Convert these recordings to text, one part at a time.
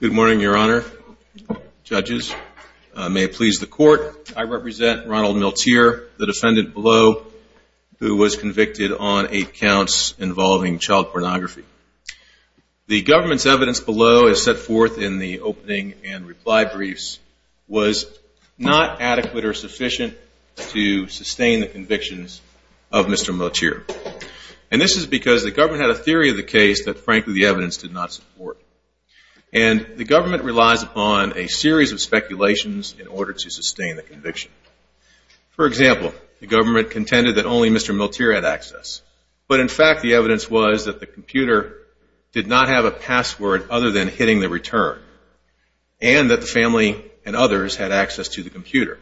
Good morning, your honor. Judges, may it please the court, I represent Ronald Miltier, the defendant below, who was convicted on eight counts involving child pornography. The government's forth in the opening and reply briefs was not adequate or sufficient to sustain the convictions of Mr. Miltier. And this is because the government had a theory of the case that frankly the evidence did not support. And the government relies upon a series of speculations in order to sustain the conviction. For example, the government contended that only Mr. Miltier had access, but in fact the evidence was that the computer did not have a password other than hitting the return. And that the family and others had access to the computer.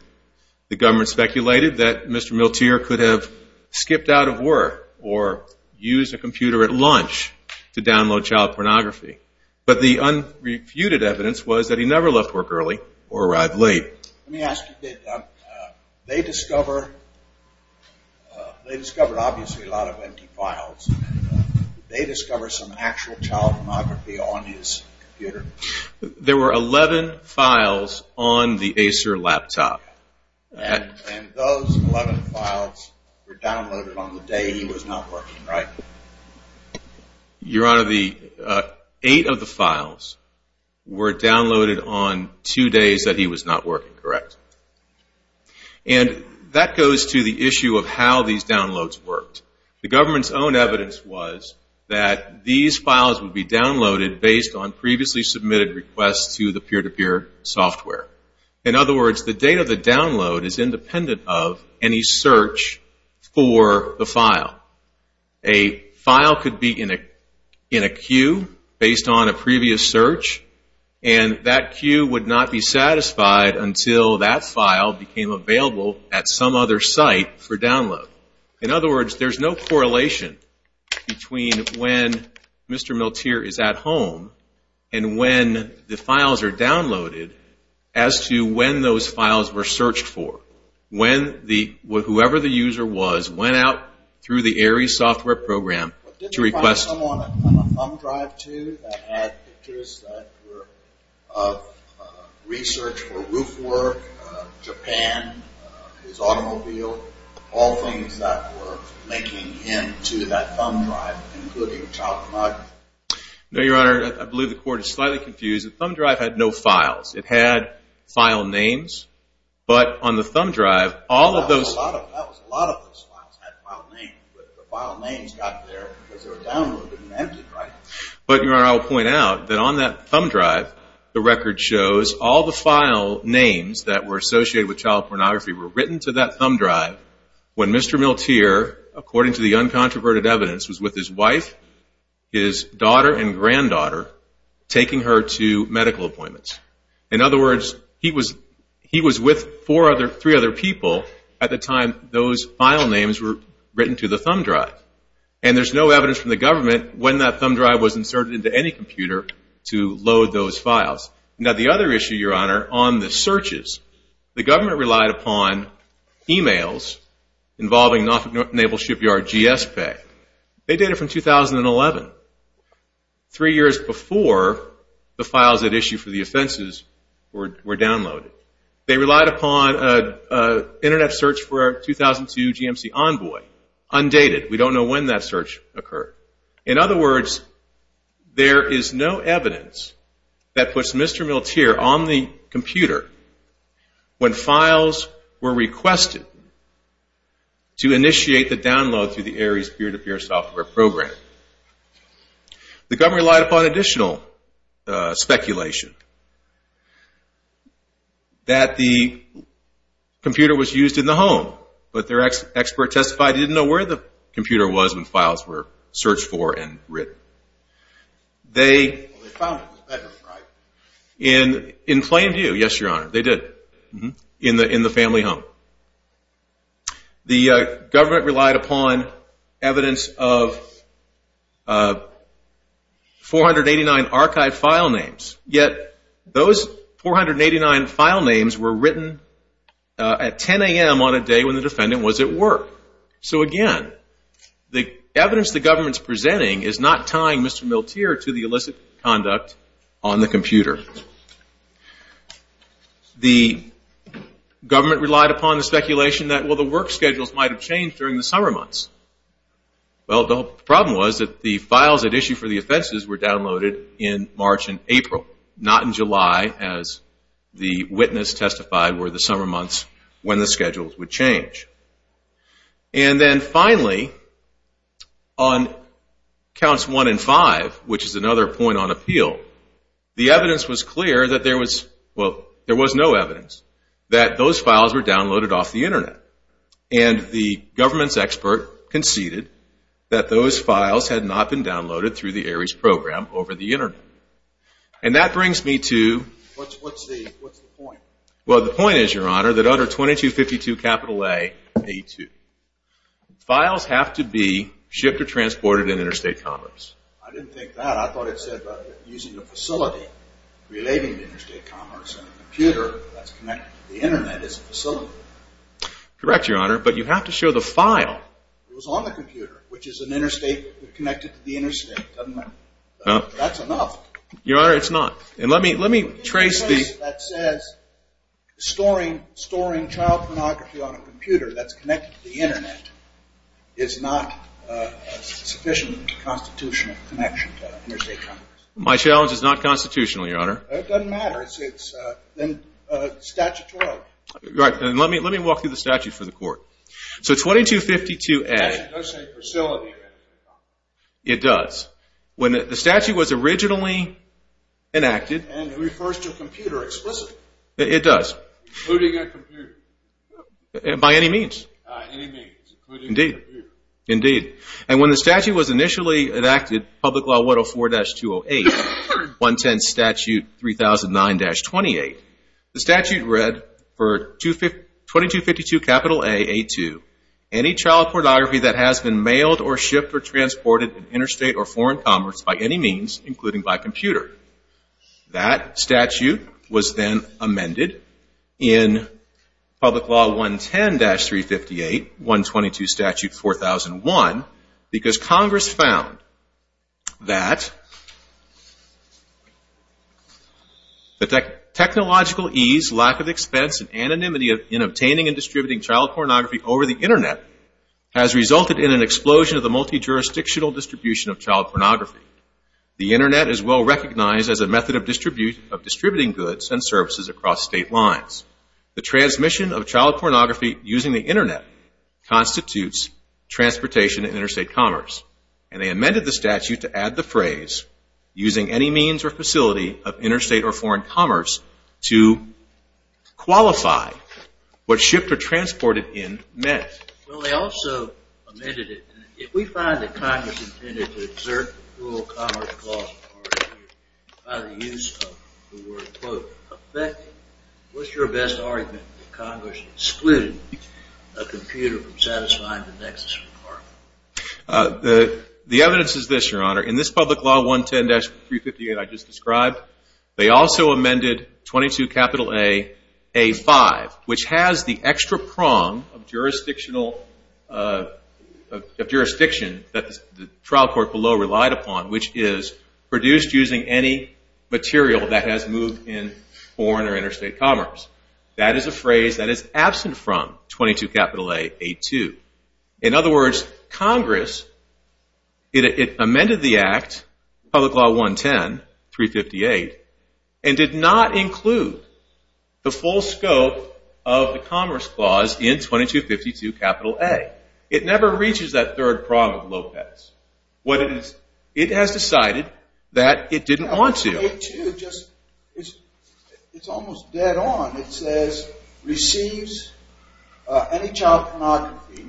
The government speculated that Mr. Miltier could have skipped out of work or used a computer at lunch to download child pornography. But the unrefuted evidence was that he never left work early or arrived late. There were 11 files on the Acer laptop. Your honor, eight of the files were that he was not working correct. And that goes to the issue of how these downloads worked. The government's own evidence was that these files would be downloaded based on previously submitted requests to the peer-to-peer software. In other words, the date of the download is independent of any satisfied until that file became available at some other site for download. In other words, there's no correlation between when Mr. Miltier is at home and when the files are downloaded as to when those files were searched for. When whoever the user was went out through the Ares software program to research for roof work, Japan, his automobile, all things that were linking him to that thumb drive, including child pornography. No, your honor, I believe the court is slightly confused. The thumb drive had no files. It had file names. But on the thumb drive, all of those... That was a lot of those files had file names. But the file names got there because they were downloaded and emptied, right? But your honor, I will point out that on that shows, all the file names that were associated with child pornography were written to that thumb drive when Mr. Miltier, according to the uncontroverted evidence, was with his wife, his daughter, and granddaughter taking her to medical appointments. In other words, he was with three other people at the time those file names were written to the thumb drive. And there's no evidence from the government when that thumb drive was inserted into any computer to load those files. Now, the other issue, your honor, on the searches, the government relied upon emails involving Norfolk Naval Shipyard GS Pay. They did it from 2011, three years before the files that issued for the offenses were downloaded. They relied upon an internet search for 2002 GMC Envoy, undated. We don't know when that search occurred. In other words, there is no evidence that puts Mr. Miltier on the computer when files were requested to initiate the download through the Ares Peer-to-Peer software program. The government relied upon additional speculation that the computer was used in the home, but their expert testified he didn't know where the computer was when files were searched for and written. In plain view, yes, your honor, they did. In the family home. The government relied upon evidence of 489 archive file names, yet those 489 file names were written at 10 a.m. on a day when the defendant was at work. So again, the government's presenting is not tying Mr. Miltier to the illicit conduct on the computer. The government relied upon the speculation that, well, the work schedules might have changed during the summer months. Well, the problem was that the files that issued for the offenses were downloaded in March and April, not in July as the witness testified were the summer months when the counts 1 and 5, which is another point on appeal, the evidence was clear that there was, well, there was no evidence that those files were downloaded off the internet. And the government's expert conceded that those files had not been downloaded through the Ares program over the internet. And that brings me to, well, the point is, your honor, that under 2252 capital A, files have to be shipped or transported in interstate commerce. I didn't think that. I thought it said using a facility relating to interstate commerce and a computer that's connected to the internet as a facility. Correct, your honor, but you have to show the file. It was on the computer, which is an interstate connected to the interstate. Doesn't matter. That's enough. Your honor, it's not. And let me trace the that says storing child pornography on a computer that's connected to the internet is not a sufficient constitutional connection to interstate commerce. My challenge is not constitutional, your honor. It doesn't matter. It's statutory. Right, and let me walk through the statute for the court. So 2252 A. It does say facility. It does. When the statute was originally enacted. And it refers to a computer explicitly. It does. Including a computer. By any means. By any means, including a computer. Indeed. And when the statute was initially enacted, public law 104-208, 110 statute 3009-28, the statute read for 2252 capital A, A2, any child pornography that has been mailed or was then amended in public law 110-358, 122 statute 4001, because Congress found that the technological ease, lack of expense, and anonymity in obtaining and distributing child pornography over the internet has resulted in an explosion of the multi-jurisdictional distribution of child pornography. The internet is well recognized as a method of distributing goods and services across state lines. The transmission of child pornography using the internet constitutes transportation and interstate commerce. And they amended the statute to add the phrase using any means or facility of interstate or foreign commerce to qualify what shipped or transported in meant. Well, they also amended it. If we find that Congress intended to exert the rule of commerce clause by the use of the word, quote, affecting, what's your best argument that Congress excluded a computer from satisfying the nexus requirement? The evidence is this, your honor. In this public law 110-358 that I just described, they also amended 22 capital A, A5, which has the extra prong of jurisdiction that the trial court below relied upon, which is produced using any material that has moved in foreign or interstate commerce. That is a phrase that is absent from 22 capital A, A2. In 110-358 and did not include the full scope of the commerce clause in 22-52 capital A. It never reaches that third prong of Lopez. It has decided that it didn't want to. 22, it's almost dead on. It says receives any child pornography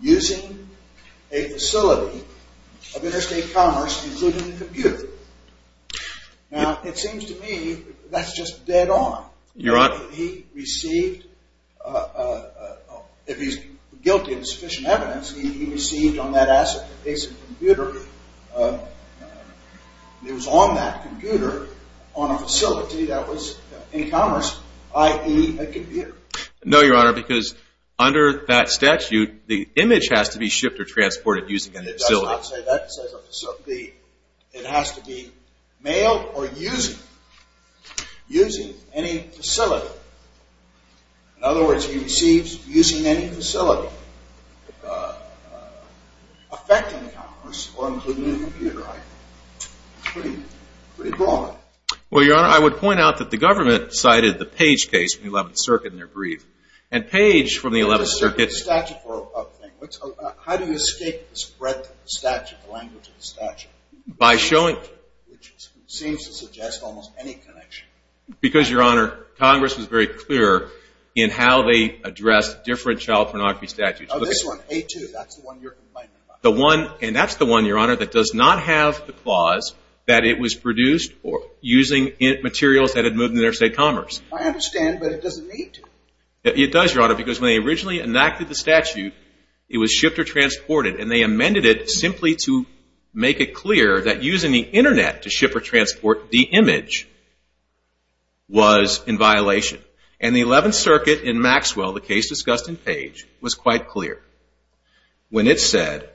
using a facility of interstate commerce including a computer. Now, it seems to me that's just dead on. He received, if he's guilty of sufficient evidence, he received on that asset a piece of computer. It was on that computer on a facility that was in commerce, i.e., a computer. No, your honor, because under that statute, the image has to be shipped or transported using a facility. I would not say that. It has to be mailed or using any facility. In other words, he receives using any facility affecting commerce or including a computer. It's pretty broad. Well, your honor, I would point out that the government cited the Page case from the 11th Circuit in their brief. And Page from the 11th Statute, the language of the statute, which seems to suggest almost any connection. Because, your honor, Congress was very clear in how they addressed different child pornography statutes. Oh, this one, A-2, that's the one you're complaining about. The one, and that's the one, your honor, that does not have the clause that it was produced using materials that had moved interstate commerce. I understand, but it doesn't need to. It does, your honor, because when they originally enacted the statute, it was shipped or transported. And they amended it simply to make it clear that using the internet to ship or transport the image was in violation. And the 11th Circuit in Maxwell, the case discussed in Page, was quite clear. When it said,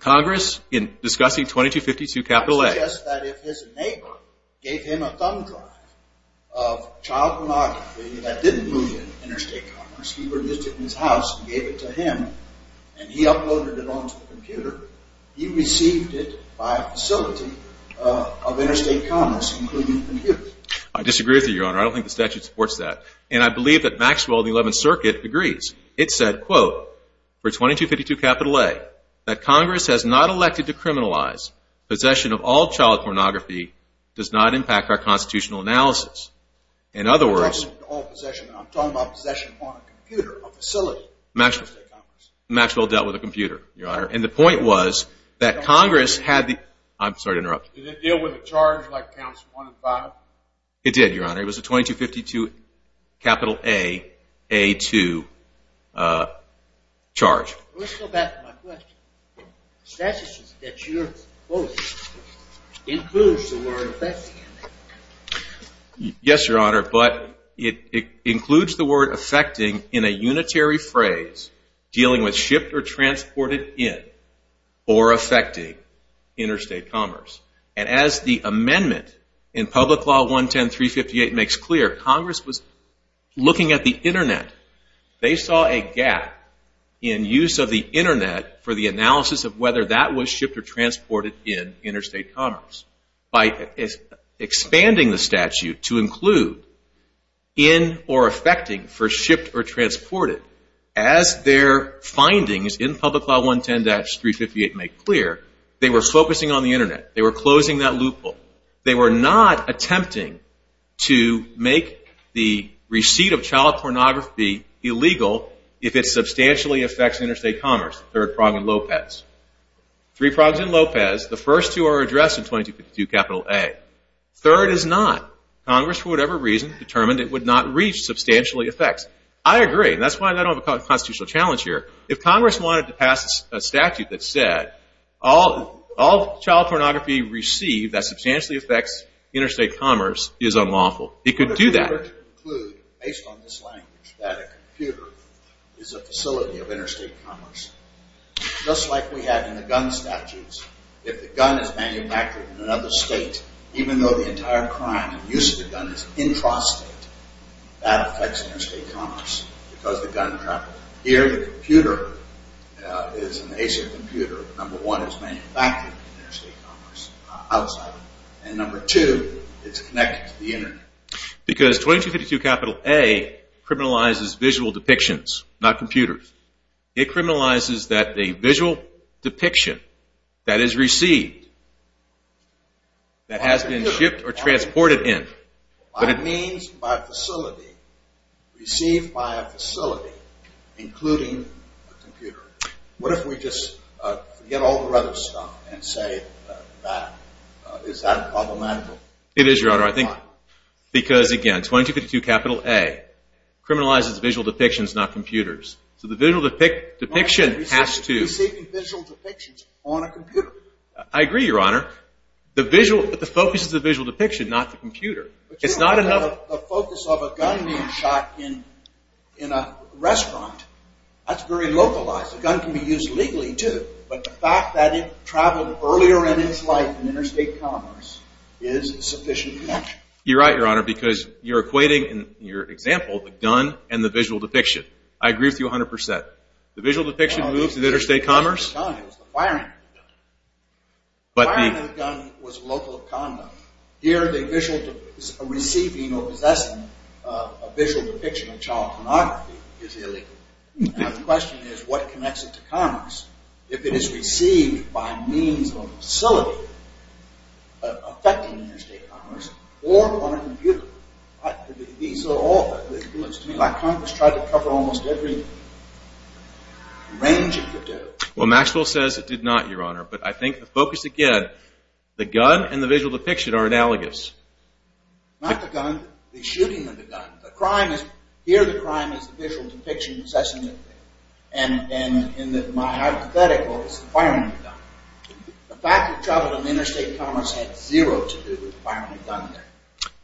Congress, in discussing 2252 capital A. I suggest that if his neighbor gave him a thumb drive of child pornography that didn't move interstate commerce, he produced it in his house and gave it to him, and he uploaded it onto the computer, he received it by a facility of interstate commerce, including computers. I disagree with you, your honor. I don't think the statute supports that. And I believe that Maxwell, the 11th Circuit, agrees. It said, quote, for 2252 capital A, that Congress has not elected to criminalize possession of all child pornography does not impact our constitutional analysis. In other words, Maxwell dealt with a computer, your honor. And the point was that Congress had the, I'm sorry to interrupt. Did it deal with a charge like counts one and five? It did, your honor. It was a 2252 capital A, A2 charge. Let's go back to my question. The statute that you're quoting includes the word affecting. Yes, your honor. But it includes the word affecting in a unitary phrase dealing with shipped or transported in or affecting interstate commerce. And as the amendment in Public Law 110-358 makes clear, Congress was looking at the Internet. They saw a gap in use of the Internet for the analysis of whether that was shipped or transported in interstate commerce. By expanding the statute to include in or affecting for shipped or transported, as their findings in Public Law 110-358 make clear, they were focusing on the Internet. They were closing that loophole. They were not attempting to make the receipt of child pornography illegal if it substantially affects interstate commerce, third prong in Lopez. Three prongs in Lopez. The first two are addressed in 2252 capital A. Third is not. Congress, for whatever reason, determined it would not reach substantially affects. I agree. That's why I don't have a constitutional challenge here. If Congress wanted to pass a statute that said all child pornography received that substantially affects interstate commerce is unlawful, it could do that. I would prefer to conclude, based on this language, that a computer is a facility of interstate commerce. Just like we had in the gun statutes. If the gun is manufactured in another state, even though the entire crime and use of the gun is intrastate, that affects interstate commerce because the gun traffic. Here, the computer is an Asian computer. Number one, it's manufactured in interstate commerce outside. And number two, it's connected to the Internet. Because 2252 capital A criminalizes visual depictions, not computers. It criminalizes that a visual depiction that is received, that has been shipped or transported in. By means, by facility, received by a facility, including a computer. What if we just forget all the other stuff and say that? Is that problematical? It is, Your Honor. Because, again, 2252 capital A criminalizes visual depictions, not computers. So the visual depiction has to. Receiving visual depictions on a computer. I agree, Your Honor. The visual, the focus is the visual depiction, not the computer. It's not enough. The focus of a gun being shot in a restaurant, that's very localized. A gun can be used legally, too. But the fact that it traveled earlier in its life in interstate commerce is sufficient connection. You're right, Your Honor, because you're equating, in your example, the gun and the visual depiction. I agree with you 100%. The visual depiction moves to interstate commerce. It was the firing of the gun. The firing of the gun was local of conduct. Here, the receiving or possessing a visual depiction of child pornography is illegal. Now the question is, what connects it to commerce? If it is received by means of a facility, affecting interstate commerce, or on a computer. These are all, to me, like Congress tried to cover almost every range of the do. Well, Maxwell says it did not, Your Honor. But I think the focus, again, the gun and the visual depiction are analogous. Not the gun. The shooting of the gun. The crime is, here the crime is the visual depiction possessing it. And in my hypothetical, it's the firing of the gun. The fact it traveled in interstate commerce had zero to do with the firing of the gun there.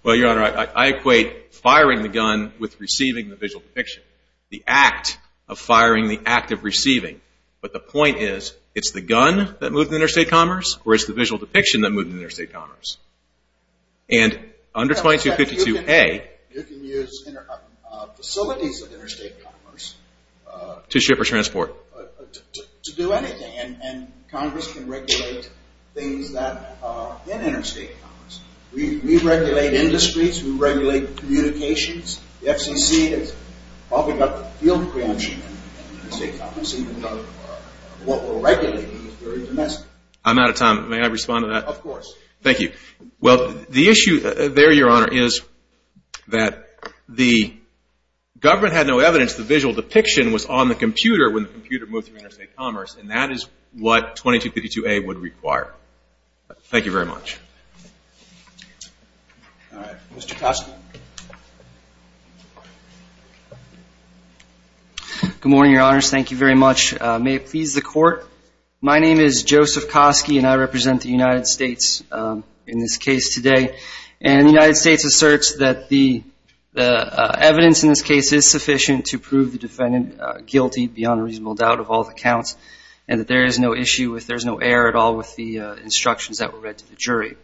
Well, Your Honor, I equate firing the gun with receiving the visual depiction. The act of firing, the act of receiving. But the point is, it's the gun that moved to interstate commerce, or it's the visual depiction that moved to interstate commerce. And under 2252A. You can use facilities of interstate commerce. To ship or transport. To do anything. And Congress can regulate things that are in interstate commerce. We regulate industries. We regulate communications. The FCC has opened up a field branch in interstate commerce. Even though what we're regulating is very domestic. I'm out of time. May I respond to that? Of course. Thank you. Well, the issue there, Your Honor, is that the government had no evidence the visual depiction was on the computer when the computer moved through interstate commerce. And that is what 2252A would require. Thank you very much. All right. Mr. Kosky. Good morning, Your Honors. Thank you very much. May it please the Court. My name is Joseph Kosky, and I represent the United States in this case today. And the United States asserts that the evidence in this case is sufficient to prove the defendant guilty, beyond a reasonable doubt, of all the counts. And that there is no issue with, there's no error at all with the instructions that were read to the jury.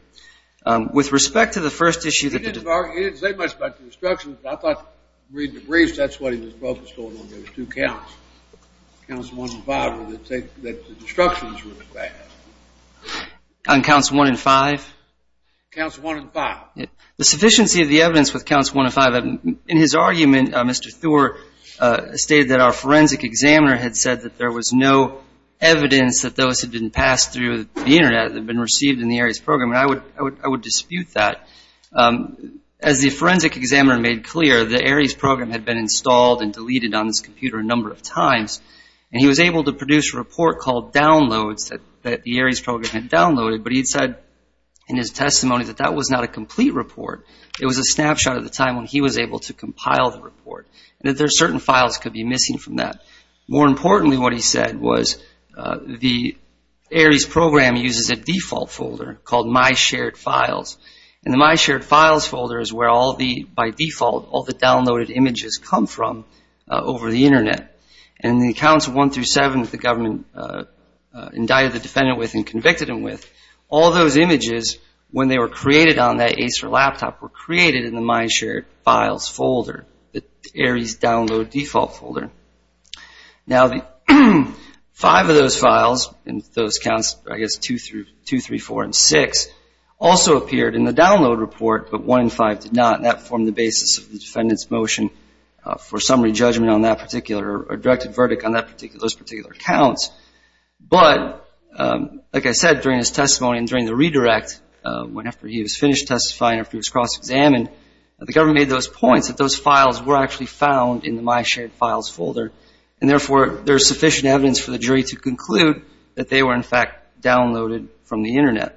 With respect to the first issue that the... He didn't say much about the instructions, but I thought reading the briefs, that's what he was focused on, on those two counts. Counts one and five, that the instructions were fast. On counts one and five? Counts one and five. The sufficiency of the evidence with counts one and five. In his argument, Mr. Thor stated that our forensic examiner had said that there was no evidence that those had been passed through the Internet that had been received in the ARIES program. And I would dispute that. As the forensic examiner made clear, the ARIES program had been installed and deleted on this computer a number of times. And he was able to produce a report called Downloads that the ARIES program had downloaded. But he said in his testimony that that was not a complete report. It was a snapshot of the time when he was able to compile the report. And that there are certain files that could be missing from that. More importantly, what he said was the ARIES program uses a default folder called My Shared Files. And the My Shared Files folder is where all the, by default, all the downloaded images come from over the Internet. And the counts one through seven that the government indicted the defendant with and convicted him with, all those images, when they were created on that Acer laptop, were created in the My Shared Files folder, the ARIES download default folder. Now, five of those files, and those counts, I guess, two through four and six, also appeared in the download report, but one in five did not. And that formed the basis of the defendant's motion for summary judgment on that particular or directed verdict on those particular counts. But, like I said, during his testimony and during the redirect, after he was finished testifying, after he was cross-examined, the government made those points that those files were actually found in the My Shared Files folder. And, therefore, there's sufficient evidence for the jury to conclude that they were, in fact, downloaded from the Internet.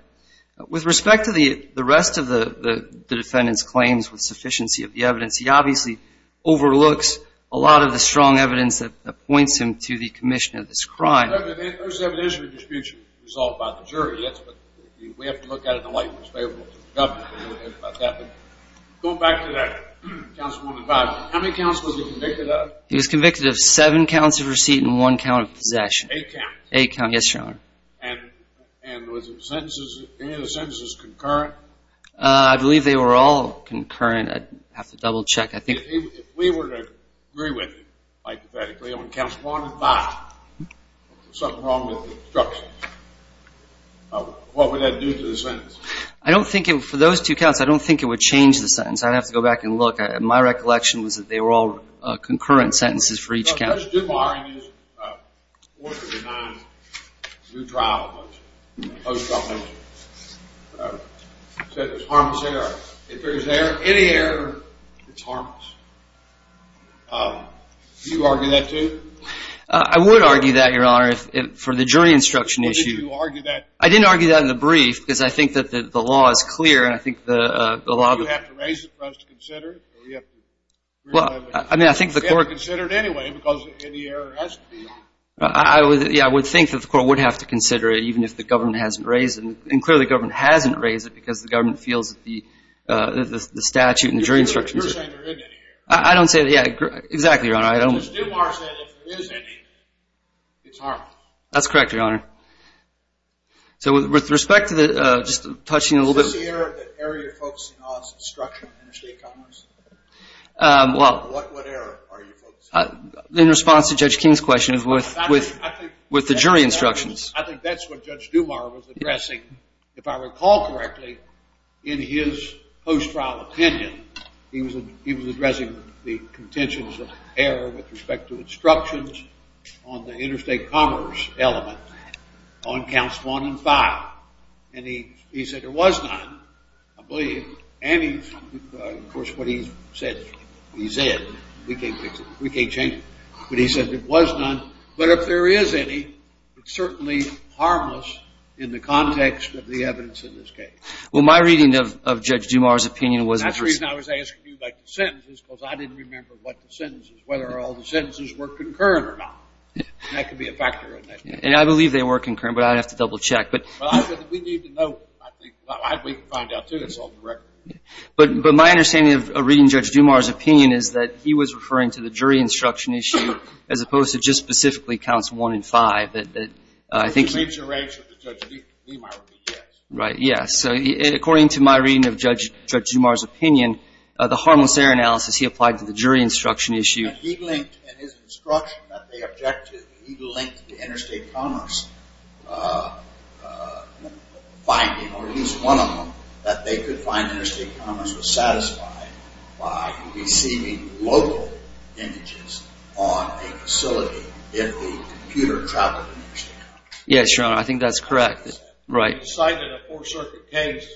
With respect to the rest of the defendant's claims with sufficiency of the evidence, he obviously overlooks a lot of the strong evidence that points him to the commission of this crime. There's evidence of a dispute resolved by the jury, yes, but we have to look at it in a light that's favorable to the government. Going back to that, counts one through five, how many counts was he convicted of? He was convicted of seven counts of receipt and one count of possession. Eight counts. Eight counts, yes, Your Honor. And were any of the sentences concurrent? I believe they were all concurrent. I'd have to double-check. If we were to agree with you, hypothetically, on counts one and five, there's something wrong with the instructions. What would that do to the sentence? For those two counts, I don't think it would change the sentence. I'd have to go back and look. My recollection was that they were all concurrent sentences for each count. Judge Dubar, in his order to deny new trial, said it was harmless error. If there is any error, it's harmless. Do you argue that, too? I would argue that, Your Honor, for the jury instruction issue. Why did you argue that? I didn't argue that in the brief because I think that the law is clear. Do you have to raise it for us to consider? Well, I mean, I think the court – We have to consider it anyway because any error has to be – Yeah, I would think that the court would have to consider it, even if the government hasn't raised it. And clearly the government hasn't raised it because the government feels that the statute and the jury instructions – You're saying there isn't any error. I don't say – yeah, exactly, Your Honor. Judge Dubar said if there is any, it's harmless. That's correct, Your Honor. So with respect to the – just touching a little bit – What is the error that you're focusing on as instruction on interstate commerce? What error are you focusing on? In response to Judge King's question with the jury instructions. I think that's what Judge Dubar was addressing. If I recall correctly, in his post-trial opinion, he was addressing the contentions of error with respect to instructions on the interstate commerce element on Counts 1 and 5. And he said there was none, I believe. And, of course, what he said, we can't change it. But he said there was none. But if there is any, it's certainly harmless in the context of the evidence in this case. Well, my reading of Judge Dubar's opinion was – That's the reason I was asking you about the sentences because I didn't remember what the sentences – whether all the sentences were concurrent or not. That could be a factor in that case. And I believe they were concurrent, but I'd have to double-check. Well, we need to know. We can find out, too. It's on the record. But my understanding of reading Judge Dubar's opinion is that he was referring to the jury instruction issue as opposed to just specifically Counts 1 and 5. I think – If it's a major error, Judge Dubar would be, yes. Right, yes. So according to my reading of Judge Dubar's opinion, the harmless error analysis he applied to the jury instruction issue – he linked in his instruction that they objected – he linked to interstate commerce finding, or at least one of them, that they could find interstate commerce was satisfied by receiving local images on a facility if the computer traveled interstate commerce. Yes, Your Honor. I think that's correct. He cited a Fourth Circuit case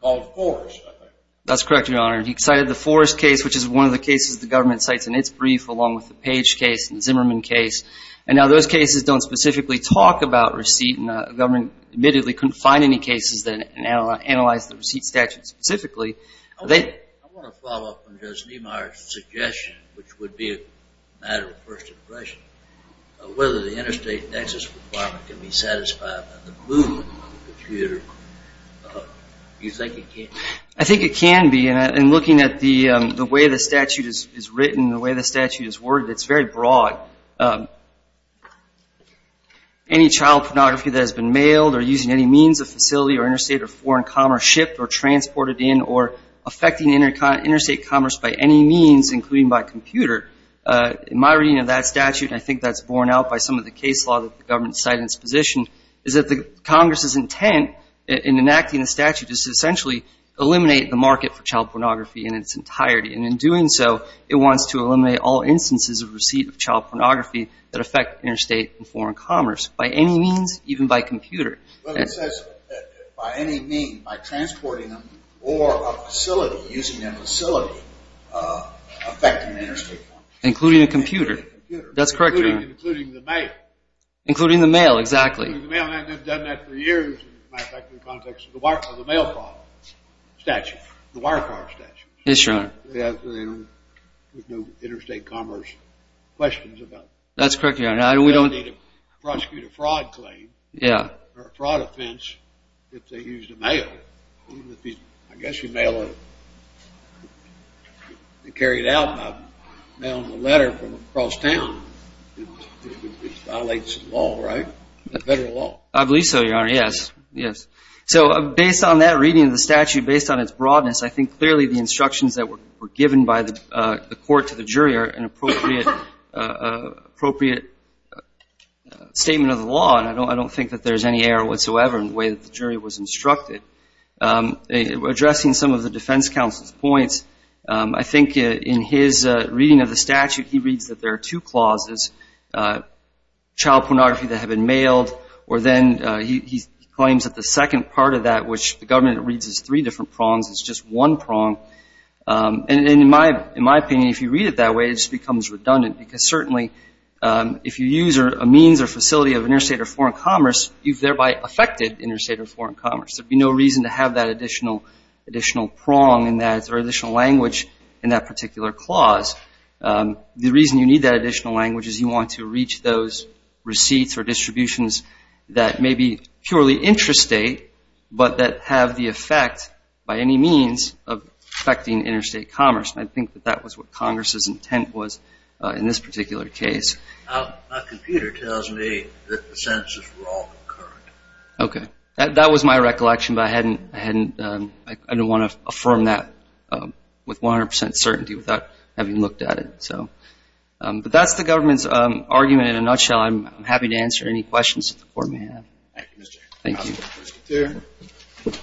called Forrest, I think. That's correct, Your Honor. He cited the Forrest case, which is one of the cases the government cites in its brief, along with the Page case and Zimmerman case. And now those cases don't specifically talk about receipt, and the government admittedly couldn't find any cases that analyzed the receipt statute specifically. I want to follow up on Judge Niemeyer's suggestion, which would be a matter of first impression, whether the interstate access requirement can be satisfied by the movement of the computer. Do you think it can? I think it can be. And looking at the way the statute is written, the way the statute is worded, it's very broad. Any child pornography that has been mailed or using any means of facility or interstate or foreign commerce shipped or transported in or affecting interstate commerce by any means, including by computer, in my reading of that statute, and I think that's borne out by some of the case law that the government cited in its position, is that Congress's intent in enacting the statute is to essentially eliminate the market for child pornography in its entirety. And in doing so, it wants to eliminate all instances of receipt of child pornography that affect interstate and foreign commerce by any means, even by computer. Well, it says by any mean, by transporting them or a facility, using that facility affecting interstate commerce. Including a computer. Including a computer. That's correct, Your Honor. Including the mail. Including the mail, exactly. Because the mail hasn't been done that for years, as a matter of fact, in the context of the mail fraud statute, the wire fraud statute. Yes, Your Honor. With no interstate commerce questions about it. That's correct, Your Honor. We don't need to prosecute a fraud claim or a fraud offense if they used a mail. I guess you mail it. They carry it out by mailing a letter from across town. It violates law, right? Federal law. I believe so, Your Honor. Yes. Yes. So based on that reading of the statute, based on its broadness, I think clearly the instructions that were given by the court to the jury are an appropriate statement of the law. And I don't think that there's any error whatsoever in the way that the jury was instructed. Addressing some of the defense counsel's points, I think in his reading of the clause, it's child pornography that had been mailed, or then he claims that the second part of that, which the government reads as three different prongs, it's just one prong. And in my opinion, if you read it that way, it just becomes redundant. Because certainly if you use a means or facility of interstate or foreign commerce, you've thereby affected interstate or foreign commerce. There would be no reason to have that additional prong or additional language in that particular clause. The reason you need that additional language is you want to reach those receipts or distributions that may be purely interstate, but that have the effect by any means of affecting interstate commerce. And I think that that was what Congress's intent was in this particular case. My computer tells me that the sentences were all concurrent. Okay. That was my recollection, but I didn't want to affirm that with 100 percent certainty without having looked at it. But that's the government's argument in a nutshell. I'm happy to answer any questions that the Court may have. Thank you, Mr. Chairman. Thank you.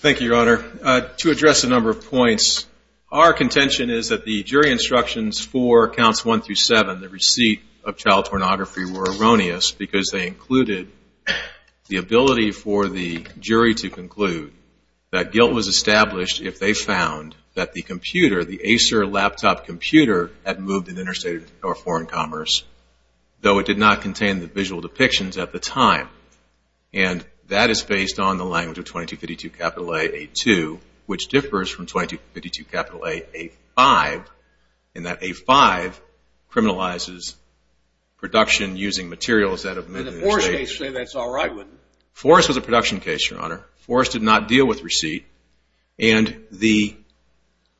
Thank you, Your Honor. To address a number of points, our contention is that the jury instructions for counts one through seven, the receipt of child pornography, were erroneous because they included the ability for the jury to conclude that guilt was established if they found that the computer, the Acer laptop computer, had moved in interstate or foreign commerce, though it did not contain the visual depictions at the time. And that is based on the language of 2252 capital A, A2, which differs from 2252 capital A, A5, in that A5 criminalizes production using materials that have been in the state. And the Forrest case said that's all right with it. Forrest was a production case, Your Honor. Forrest did not deal with receipt. And the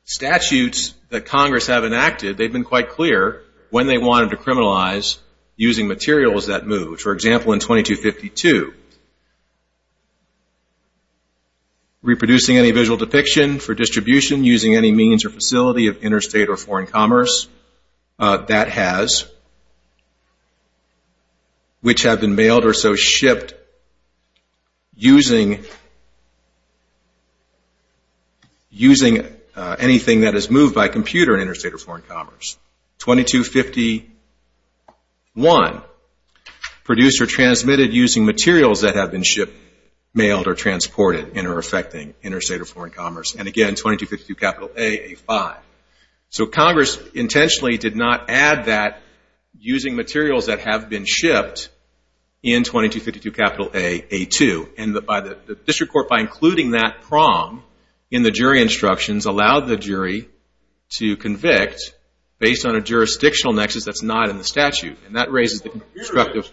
statutes that Congress have enacted, they've been quite clear when they wanted to criminalize using materials that moved. For example, in 2252, reproducing any visual depiction for distribution using any means or facility of interstate or foreign commerce that has, which have been mailed or so shipped using anything that is moved by computer in interstate or foreign commerce. 2251, produced or transmitted using materials that have been shipped, mailed, or transported and are affecting interstate or foreign commerce. And again, 2252 capital A, A5. So Congress intentionally did not add that using materials that have been shipped in 2252 capital A, A2. And by the district court, by including that prong in the jury instructions allowed the jury to convict based on a jurisdictional nexus that's not in the statute. And that raises the constructive.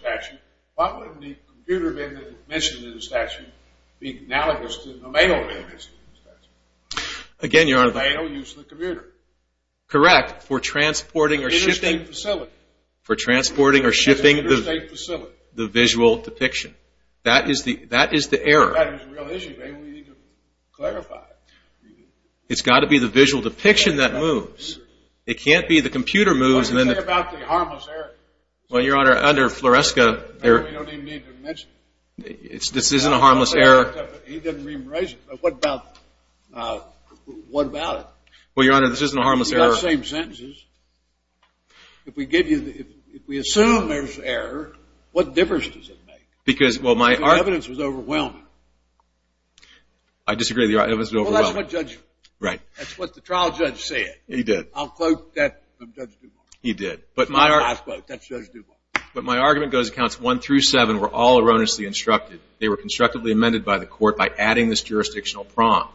Why wouldn't the computer being mentioned in the statute be analogous to the mail being mentioned in the statute? Again, Your Honor. The mail used in the computer. Correct. For transporting or shipping. Interstate facility. For transporting or shipping the visual depiction. That is the error. That is the real issue. Maybe we need to clarify it. It's got to be the visual depiction that moves. It can't be the computer moves and then the. What do you say about the harmless error? Well, Your Honor, under FLORESCA. We don't even need to mention it. This isn't a harmless error. He didn't rephrase it. What about it? Well, Your Honor, this isn't a harmless error. We have the same sentences. If we assume there's error, what difference does it make? Because, well, my. The evidence was overwhelming. I disagree with you. It was overwhelming. Well, that's what the trial judge said. He did. I'll quote that from Judge Duvall. He did. That's my last quote. That's Judge Duvall. But my argument goes to counts one through seven were all erroneously instructed. They were constructively amended by the court by adding this jurisdictional prompt.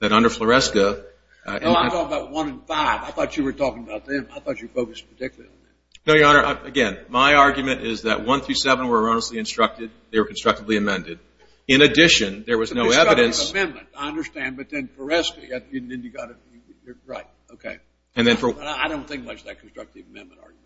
That under FLORESCA. No, I'm talking about one in five. I thought you were talking about them. I thought you focused particularly on them. No, Your Honor. Again, my argument is that one through seven were erroneously instructed. They were constructively amended. In addition, there was no evidence. It's a discovering amendment. I understand. But then FLORESCA, then you've got to. You're right. Okay. I don't think much of that constructive amendment argument.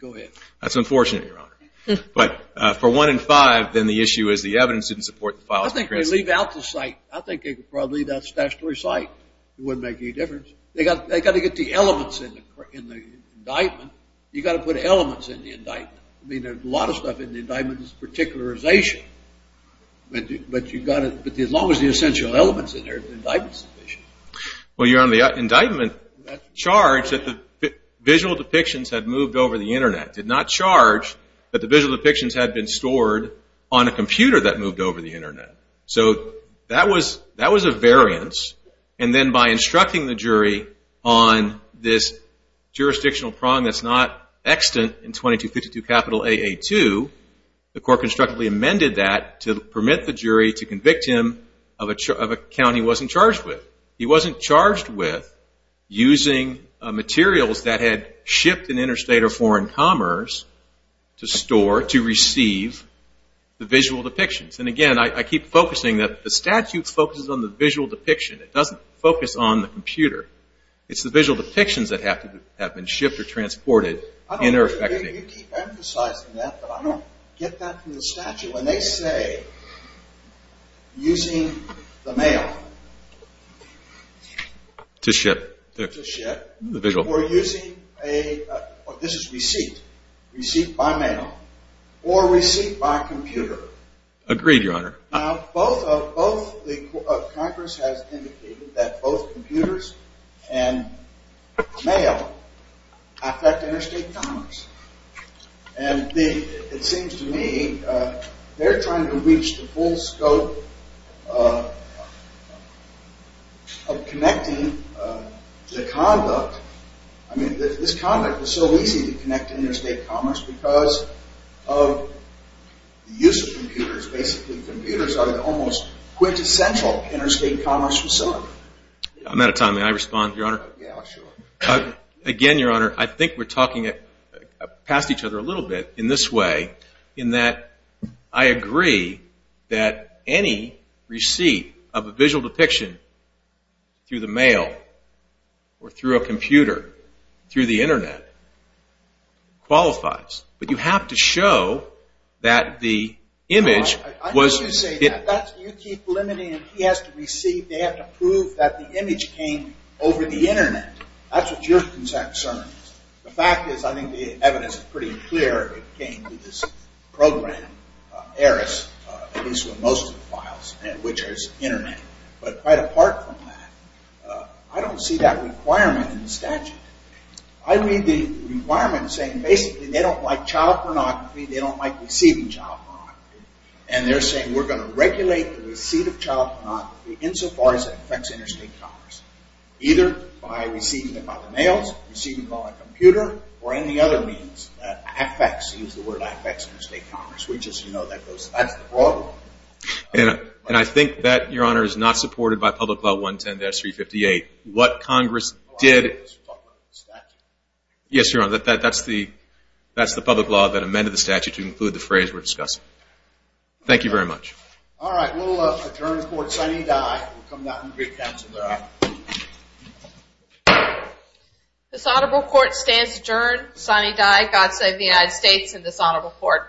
Go ahead. That's unfortunate, Your Honor. But for one in five, then the issue is the evidence didn't support the files. I think they leave out the site. I think they'd probably leave out the statutory site. It wouldn't make any difference. They've got to get the elements in the indictment. You've got to put elements in the indictment. I mean, a lot of stuff in the indictment is particularization. But as long as the essential element's in there, the indictment's sufficient. Well, you're on the indictment. It did not charge that the visual depictions had moved over the Internet. It did not charge that the visual depictions had been stored on a computer that moved over the Internet. So that was a variance. And then by instructing the jury on this jurisdictional prong that's not extant in 2252 A.A.2, the court constructively amended that to permit the jury to convict him of a count he wasn't charged with. He wasn't charged with using materials that had shipped in interstate or foreign commerce to store, to receive the visual depictions. And, again, I keep focusing that the statute focuses on the visual depiction. It doesn't focus on the computer. It's the visual depictions that have been shipped or transported. You keep emphasizing that, but I don't get that from the statute when they say using the mail. To ship. To ship. The visual. Or using a, this is receipt. Receipt by mail. Or receipt by computer. Agreed, Your Honor. Now, both the Congress has indicated that both computers and mail affect interstate commerce. And it seems to me they're trying to reach the full scope of connecting the conduct. I mean, this conduct is so easy to connect to interstate commerce because of the use of computers. Basically, computers are an almost quintessential interstate commerce facility. I'm out of time. May I respond, Your Honor? Yeah, sure. Again, Your Honor, I think we're talking past each other a little bit in this way, in that I agree that any receipt of a visual depiction through the mail or through a computer, through the Internet, qualifies. But you have to show that the image was... I'm not going to say that. You keep limiting it. He has to receive. They have to prove that the image came over the Internet. That's what your concern is. The fact is I think the evidence is pretty clear. It came through this program, ERIS, at least with most of the files, which is Internet. But quite apart from that, I don't see that requirement in the statute. I read the requirement saying basically they don't like child pornography, they don't like receiving child pornography, and they're saying we're going to regulate the receipt of child pornography insofar as it affects interstate commerce, either by receiving it by the mail, receiving it by a computer, or any other means that affects interstate commerce. We just know that that's the broad one. And I think that, Your Honor, is not supported by Public Law 110-358. What Congress did... Oh, I thought you were talking about the statute. Yes, Your Honor. That's the public law that amended the statute to include the phrase we're discussing. Thank you very much. All right. We'll adjourn the court signing die. We'll come back in three counts when we're out. This honorable court stands adjourned, signing die. God save the United States and this honorable court.